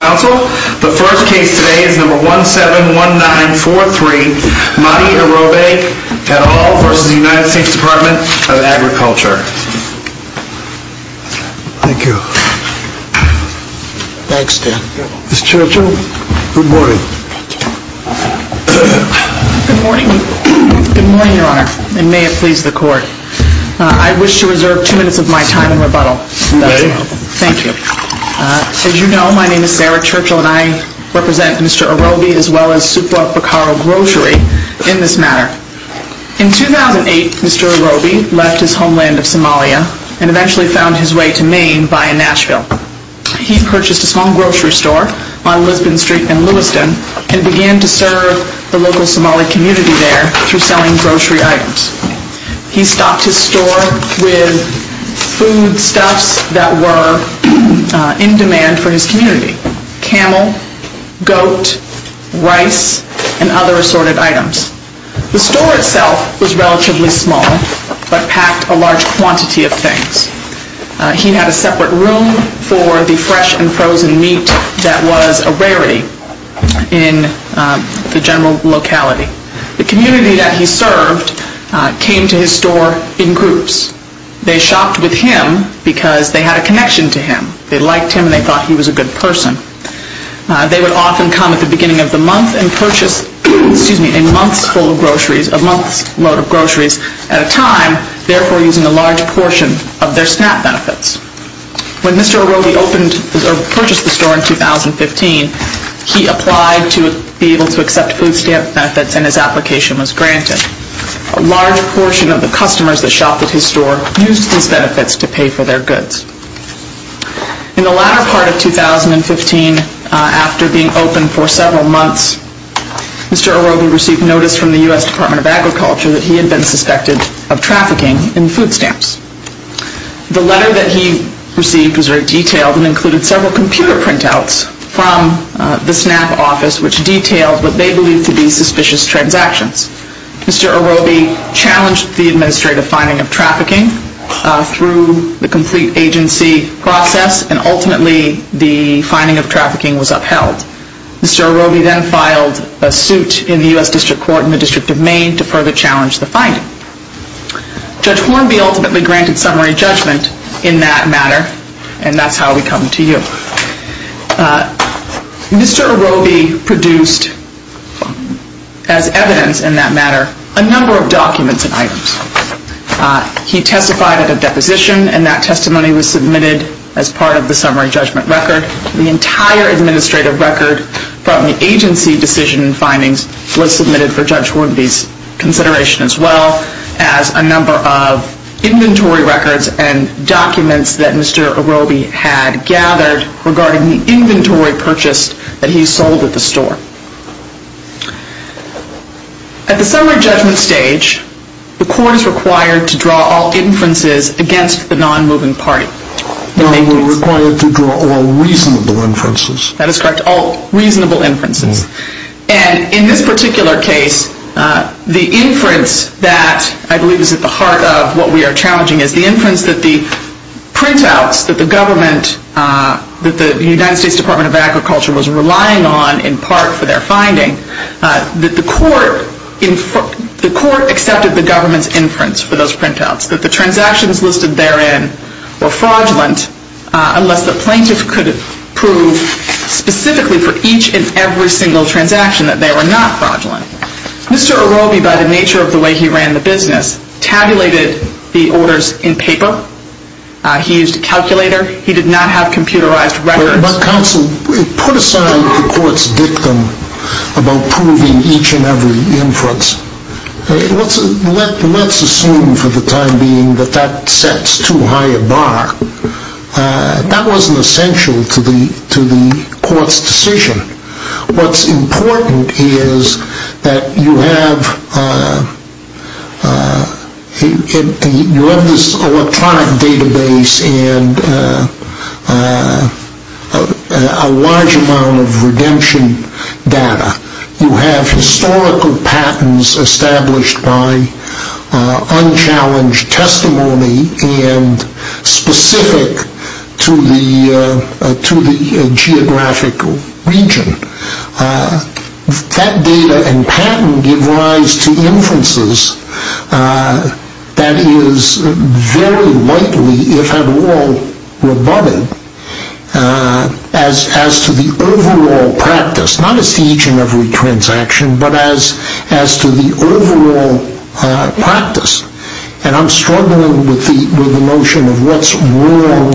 Good morning, your honor, and may it please the court. I wish to reserve two minutes of my time in rebuttal. As you know, my name is Sarah Churchill, and I represent Mr. Irobe as well as Supua Pakaro Grocery in this matter. In 2008, Mr. Irobe left his homeland of Somalia and eventually found his way to Maine via Nashville. He purchased a small grocery store on Lisbon Street in Lewiston and began to serve the local Somali community there through foodstuffs that were in demand for his community. Camel, goat, rice, and other assorted items. The store itself was relatively small, but packed a large quantity of things. He had a separate room for the fresh and frozen meat that was a rarity in the general locality. The community that he served came to his store in groups. They shopped with him because they had a connection to him. They liked him and they thought he was a good person. They would often come at the beginning of the month and purchase, excuse me, a month's load of groceries at a time, therefore using a large portion of their SNAP benefits. When Mr. Irobe purchased the store in 2015, he applied to be able to accept food stamp benefits and his application was granted. A large portion of the customers that shopped at his store used these benefits to pay for their goods. In the latter part of 2015, after being open for several months, Mr. Irobe received notice from the U.S. Department of Agriculture that he had been suspected of trafficking in food stamps. The letter that he received was very detailed and included several computer printouts from the SNAP office which detailed what they believed to be suspicious transactions. Mr. Irobe challenged the administrative finding of trafficking through the complete agency process and ultimately the finding of trafficking was upheld. Mr. Irobe then filed a suit in the U.S. District Court in the District of Maine to further challenge the finding. Judge Hornby ultimately granted summary judgment in that matter and that's how we come to you. Mr. Irobe produced as evidence in that matter a number of documents and items. He testified at a deposition and that testimony was submitted as part of the summary judgment record. The entire administrative record from the agency decision and findings was submitted for Judge Hornby's consideration as well as a number of inventory records and documents that he had gathered regarding the inventory purchased that he sold at the store. At the summary judgment stage, the court is required to draw all inferences against the non-moving party. We're required to draw all reasonable inferences. That is correct, all reasonable inferences. And in this particular case, the inference that I believe is at the point that the United States Department of Agriculture was relying on in part for their finding, that the court accepted the government's inference for those printouts, that the transactions listed therein were fraudulent unless the plaintiff could prove specifically for each and every single transaction that they were not fraudulent. Mr. Irobe, by the nature of the way he ran the business, tabulated the orders in paper. He used a calculator. He did not have computerized records. But counsel, put aside the court's dictum about proving each and every inference. Let's assume for the time being that that sets too high a bar. That wasn't essential to the court's decision. What's important is that you have this electronic database and a large amount of redemption data. You have historical patents established by unchallenged testimony and specific to the geographic region. That data and patent give rise to inferences that is very likely, if at all, rebutted as to the overall practice. Not as to each and every transaction, but as to the overall practice. And I'm struggling with the notion of what's wrong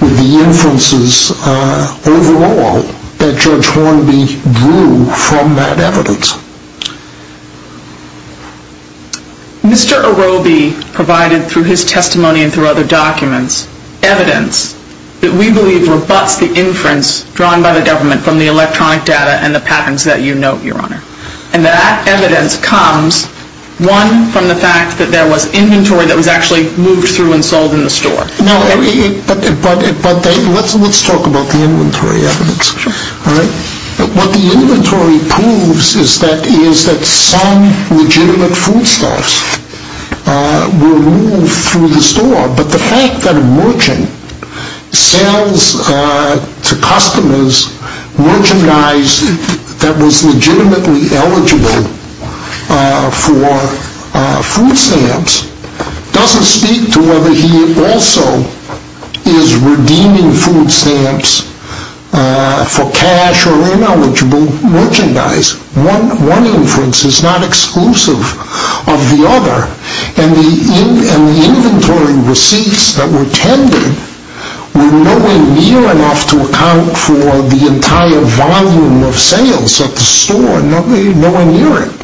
with the inferences overall that Judge Hornby drew from that evidence. Mr. Irobe provided, through his testimony and through other documents, evidence that we believe rebuts the inference drawn by the government from the electronic data and the patents that you note, Your Honor. And that evidence comes, one, from the fact that there was inventory that was actually moved through and sold in the store. No, but let's talk about the inventory evidence. All right? What the inventory proves is that some legitimate foodstuffs were moved through the store. But the fact that a merchant sells to customers merchandise that was legitimately eligible for food stamps doesn't speak to whether he also is redeeming food stamps for cash or ineligible merchandise. One inference is not exclusive of the other. And the inventory receipts that were tended were nowhere near enough to account for the entire volume of sales at the store. Nowhere near it.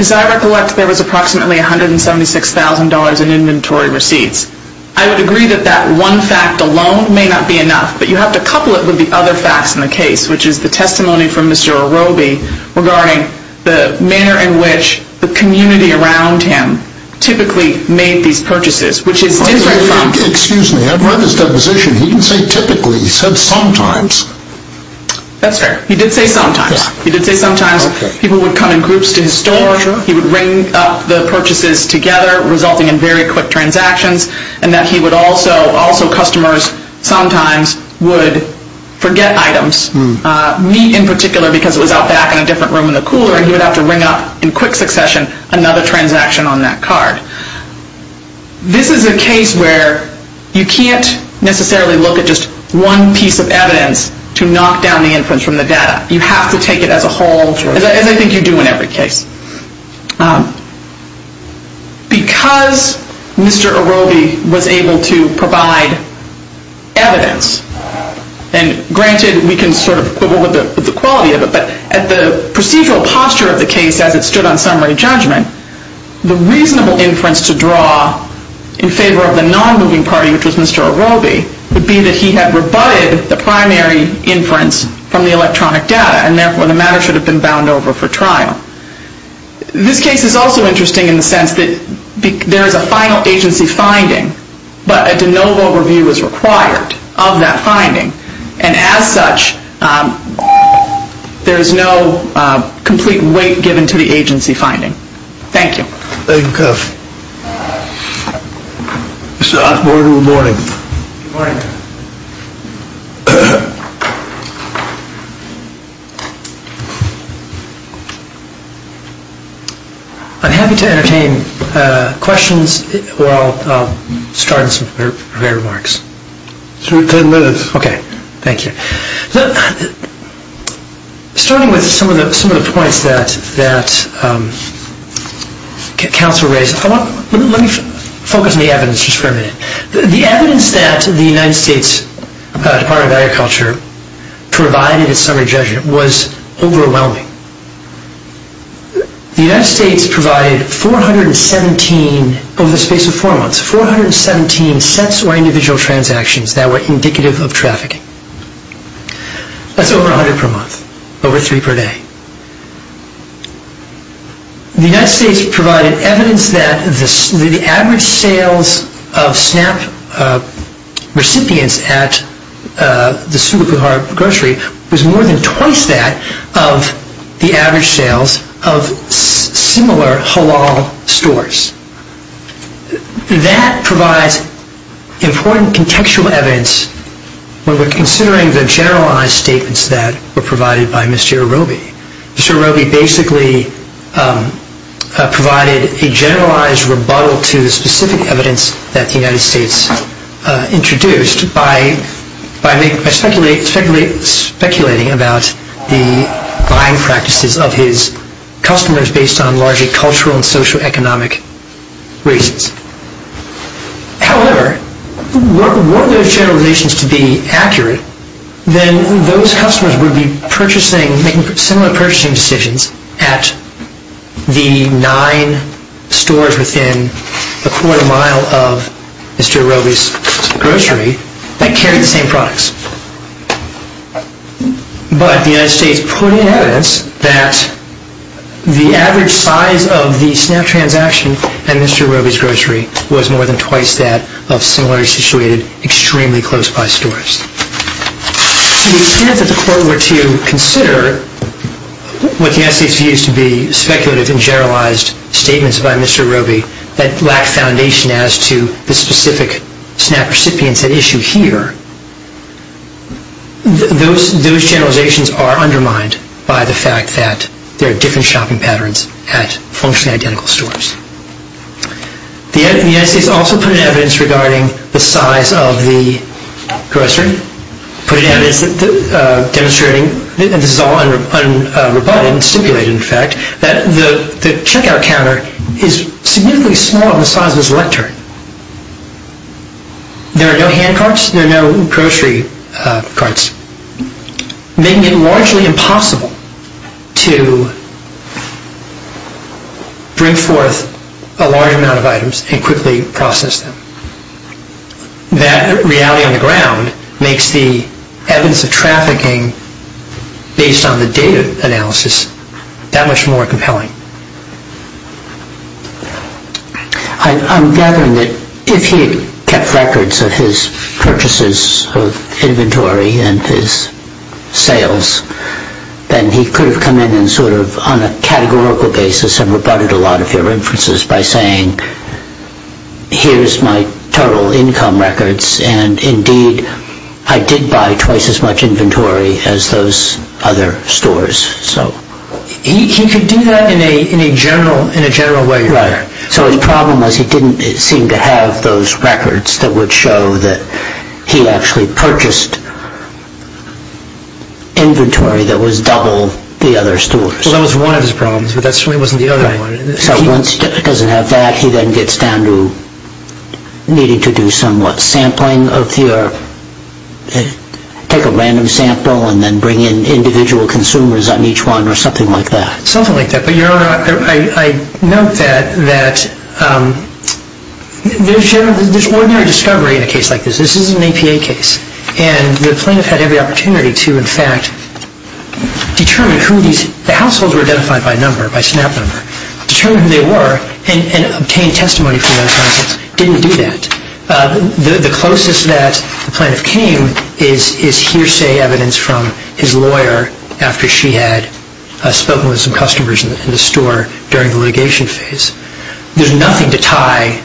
As I recollect, there was approximately $176,000 in inventory receipts. I would agree that that one fact alone may not be enough, but you have to couple it with the other facts in the case, which is the testimony from Mr. Orobi regarding the manner in which the community around him typically made these purchases, which is different from... Excuse me. I've read his deposition. He didn't say typically. He said sometimes. That's fair. He did say sometimes. He did say sometimes people would come in groups to his store. He would ring up the purchases together, resulting in very quick transactions, and that he would also, also customers sometimes would forget items, meat in particular, because it was out back in a different room in the cooler, and he would have to ring up in quick succession another transaction on that card. This is a case where you can't necessarily look at just one piece of evidence to knock down the inference from the data. You have to take it as a whole, as I think you do in every case. Because Mr. Orobi was able to provide evidence and granted we can sort of quibble with the quality of it, but at the procedural posture of the case as it stood on summary judgment, the reasonable inference to draw in favor of the non-moving party, which was Mr. Orobi, would be that he had rebutted the primary inference from the electronic data, and therefore the matter should have been bound over for trial. This case is also interesting in the sense that there is a final agency finding, but a de novo review is required of that finding, and as such, there is no complete weight given to the agency finding. Thank you. I'm happy to entertain questions, or I'll start with some prepared remarks. Sure, ten minutes. Okay, thank you. Starting with some of the points that counsel raised, let me focus on the evidence just for a minute. The evidence that the United States Department of Agriculture provided at summary judgment was overwhelming. The United States provided 417, over the space of a day, of food trafficking. That's over 100 per month, over three per day. The United States provided evidence that the average sales of SNAP recipients at the Sula Kuhar grocery was more than twice that of the average sales of similar halal stores. That provides important contextual evidence when we're considering the generalized statements that were provided by Mr. Arobi. Mr. Arobi basically provided a generalized rebuttal to specific evidence that the United States introduced by speculating about the buying practices of his customers based on largely cultural and socioeconomic reasons. However, were those generalizations to be accurate, then those customers would be making similar purchasing decisions at the nine stores within a quarter mile of Mr. Arobi's grocery that carried the same products. But the United States put in evidence that the average size of the SNAP transaction at Mr. Arobi's grocery was more than twice that of similarly situated, extremely close-by stores. The extent that the court were to consider what the United States used to be speculative and generalized statements by Mr. Arobi that lacked foundation as to the specific SNAP recipients at issue here, those generalizations are undermined by the fact that there are different shopping patterns at functionally identical stores. The United States also put in evidence regarding the size of the grocery, demonstrating, and this is all unrebutted and stipulated, in fact, that the checkout counter is significantly smaller than the size of his lectern. There are no hand carts, there are no grocery carts, making it largely impossible to bring forth a large amount of items and quickly process them. That reality on the ground makes the evidence of trafficking based on the data analysis that much more compelling. I'm gathering that if he had kept records of his purchases of inventory and his sales, then he could have come in and sort of on a categorical basis have rebutted a lot of your inferences by saying, here's my total income records, and indeed I did buy twice as much inventory as those other stores. He could do that in a general way. Right. So his problem was he didn't seem to have those records that would show that he actually purchased inventory that was double the other stores. Well, that was one of his problems, but that certainly wasn't the other one. So once he doesn't have that, he then gets down to needing to do somewhat sampling of your, take a random sample and then bring in individual consumers on each one or something like that. Something like that. But Your Honor, I note that there's ordinary discovery in a case like this. This is an APA case, and the plaintiff had every opportunity to, in fact, determine who these, the households were identified by number, by SNAP number. Determine who they were and obtain testimony from those households. Didn't do that. The closest that the plaintiff came is hearsay evidence from his lawyer after she had spoken with some customers in the store during the litigation phase. There's nothing to tie,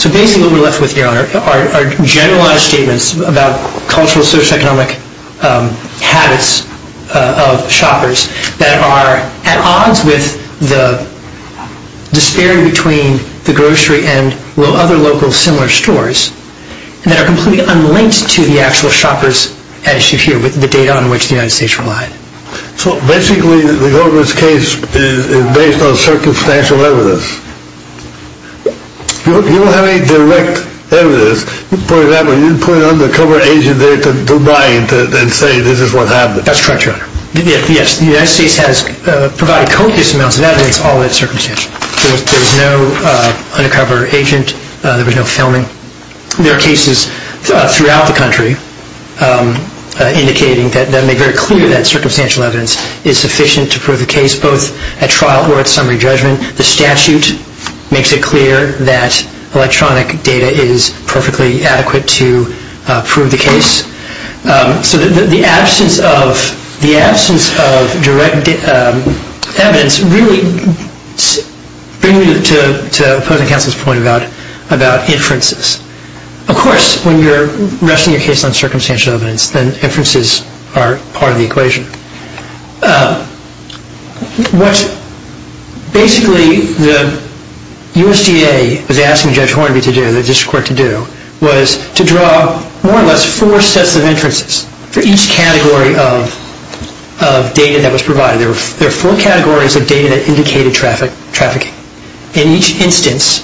so basically what we're left with, Your Honor, are generalized statements about cultural, socioeconomic habits of shoppers that are at odds with the disparity between the grocery and other local similar stores, and that are completely unlinked to the actual shoppers as you hear with the data on which the United States relied. So basically the Goldberg's case is based on circumstantial evidence. You don't have any direct evidence. For example, you didn't put an undercover agent there to deny it and say this is what happened. That's correct, Your Honor. Yes, the United States has provided copious amounts of evidence on that circumstance. There was no undercover agent. There was no filming. There are cases throughout the country indicating that make very clear that circumstantial evidence is sufficient to prove the case both at trial or at summary judgment. The statute makes it clear that electronic data is perfectly adequate to prove the case. So the absence of direct evidence really brings me to the opposing counsel's point about inferences. Of course, when you're resting your case on circumstantial evidence, then inferences are part of the equation. What basically the USDA was asking Judge Hornby to do, the district court to do, was to draw more or less four sets of inferences for each category of data that was provided. There were four categories of data that indicated trafficking. In each instance,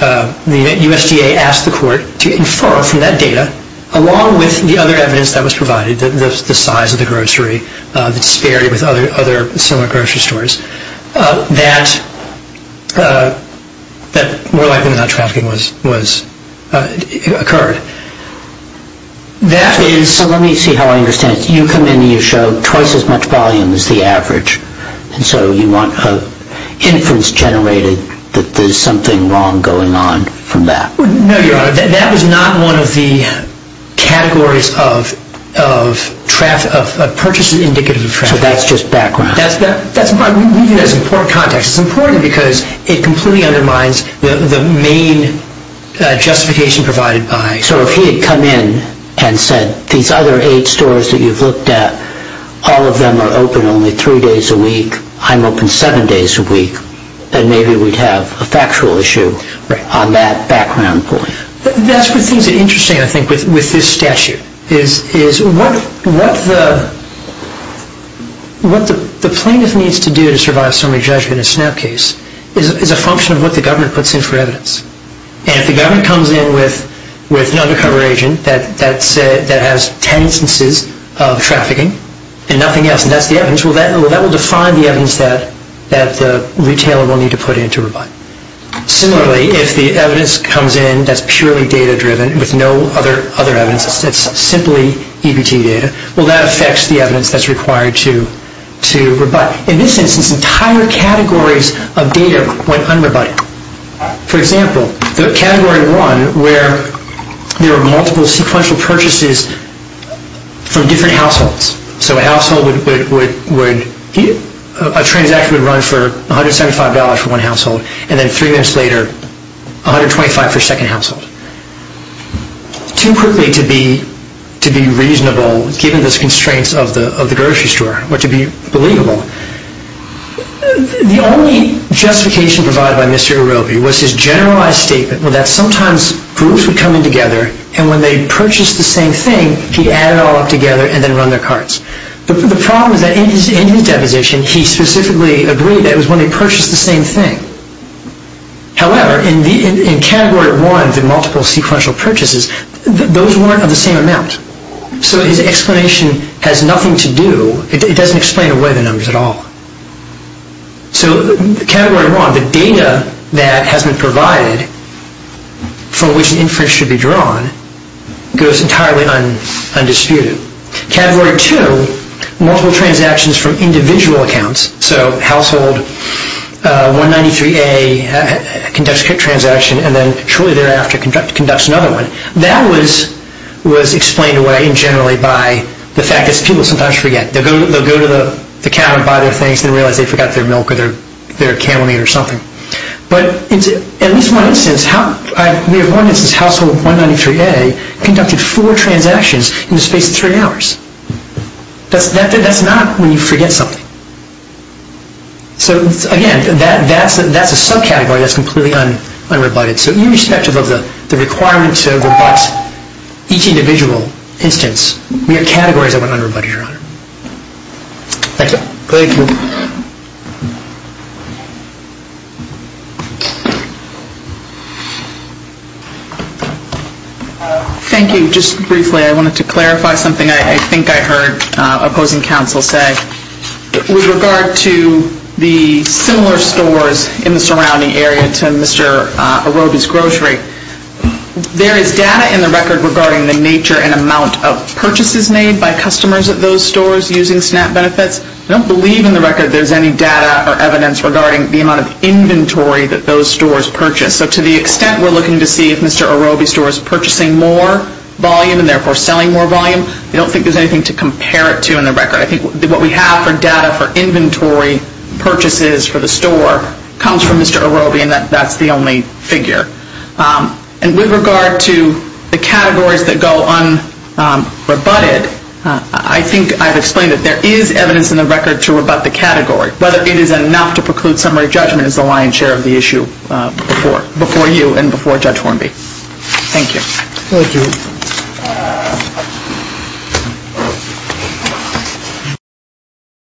the USDA asked the court to infer from that data, along with the other evidence that was provided, the size of the grocery, the disparity with other similar grocery stores, that more likely than not trafficking occurred. So let me see how I understand it. You come in and you show twice as much volume as the average. And so you want an inference generated that there's something wrong going on from that. No, Your Honor. That was not one of the categories of purchases indicative of trafficking. So that's just background. That's important context. It's important because it completely undermines the main justification provided by… So if he had come in and said, these other eight stores that you've looked at, all of them are open only three days a week, I'm open seven days a week, then maybe we'd have a factual issue on that background point. That's where things are interesting, I think, with this statute. What the plaintiff needs to do to survive summary judgment in a SNAP case is a function of what the government puts in for evidence. And if the government comes in with an undercover agent that has ten instances of trafficking and nothing else, and that's the evidence, well, that will define the evidence that the retailer will need to put in to rebut. Similarly, if the evidence comes in that's purely data-driven with no other evidence, it's simply EBT data, well, that affects the evidence that's required to rebut. In this instance, entire categories of data went unrebutted. For example, the Category 1, where there were multiple sequential purchases from different households. So a transaction would run for $175 for one household, and then three minutes later, $125 for a second household. Too quickly to be reasonable, given the constraints of the grocery store, but to be believable. The only justification provided by Mr. Erobi was his generalized statement that sometimes groups would come in together, and when they purchased the same thing, he'd add it all up together and then run their carts. The problem is that in his deposition, he specifically agreed that it was when they purchased the same thing. However, in Category 1, the multiple sequential purchases, those weren't of the same amount. So his explanation has nothing to do, it doesn't explain away the numbers at all. So Category 1, the data that has been provided for which an inference should be drawn, goes entirely undisputed. Category 2, multiple transactions from individual accounts. So household 193A conducts a transaction, and then shortly thereafter conducts another one. That was explained away, in general, by the fact that people sometimes forget. They'll go to the counter and buy their things and realize they forgot their milk or their camel meat or something. But at least one instance, household 193A conducted four transactions in the space of three hours. That's not when you forget something. So again, that's a subcategory that's completely unrebutted. So irrespective of the requirement to rebut each individual instance, we have categories that went unrebutted, Your Honor. Thank you. Thank you. Thank you. Just briefly, I wanted to clarify something I think I heard opposing counsel say. With regard to the similar stores in the surrounding area to Mr. Arobi's grocery, there is data in the record regarding the nature and amount of purchases made by customers at those stores using SNAP benefits. I don't believe in the record there's any data or evidence regarding the amount of inventory that those stores purchase. So to the extent we're looking to see if Mr. Arobi's store is purchasing more volume and therefore selling more volume, I don't think there's anything to compare it to in the record. I think what we have for data for inventory purchases for the store comes from Mr. Arobi and that's the only figure. And with regard to the categories that go unrebutted, I think I've explained it. There is evidence in the record to rebut the category. Whether it is enough to preclude summary judgment is the lion's share of the issue before you and before Judge Hornby. Thank you. Thank you.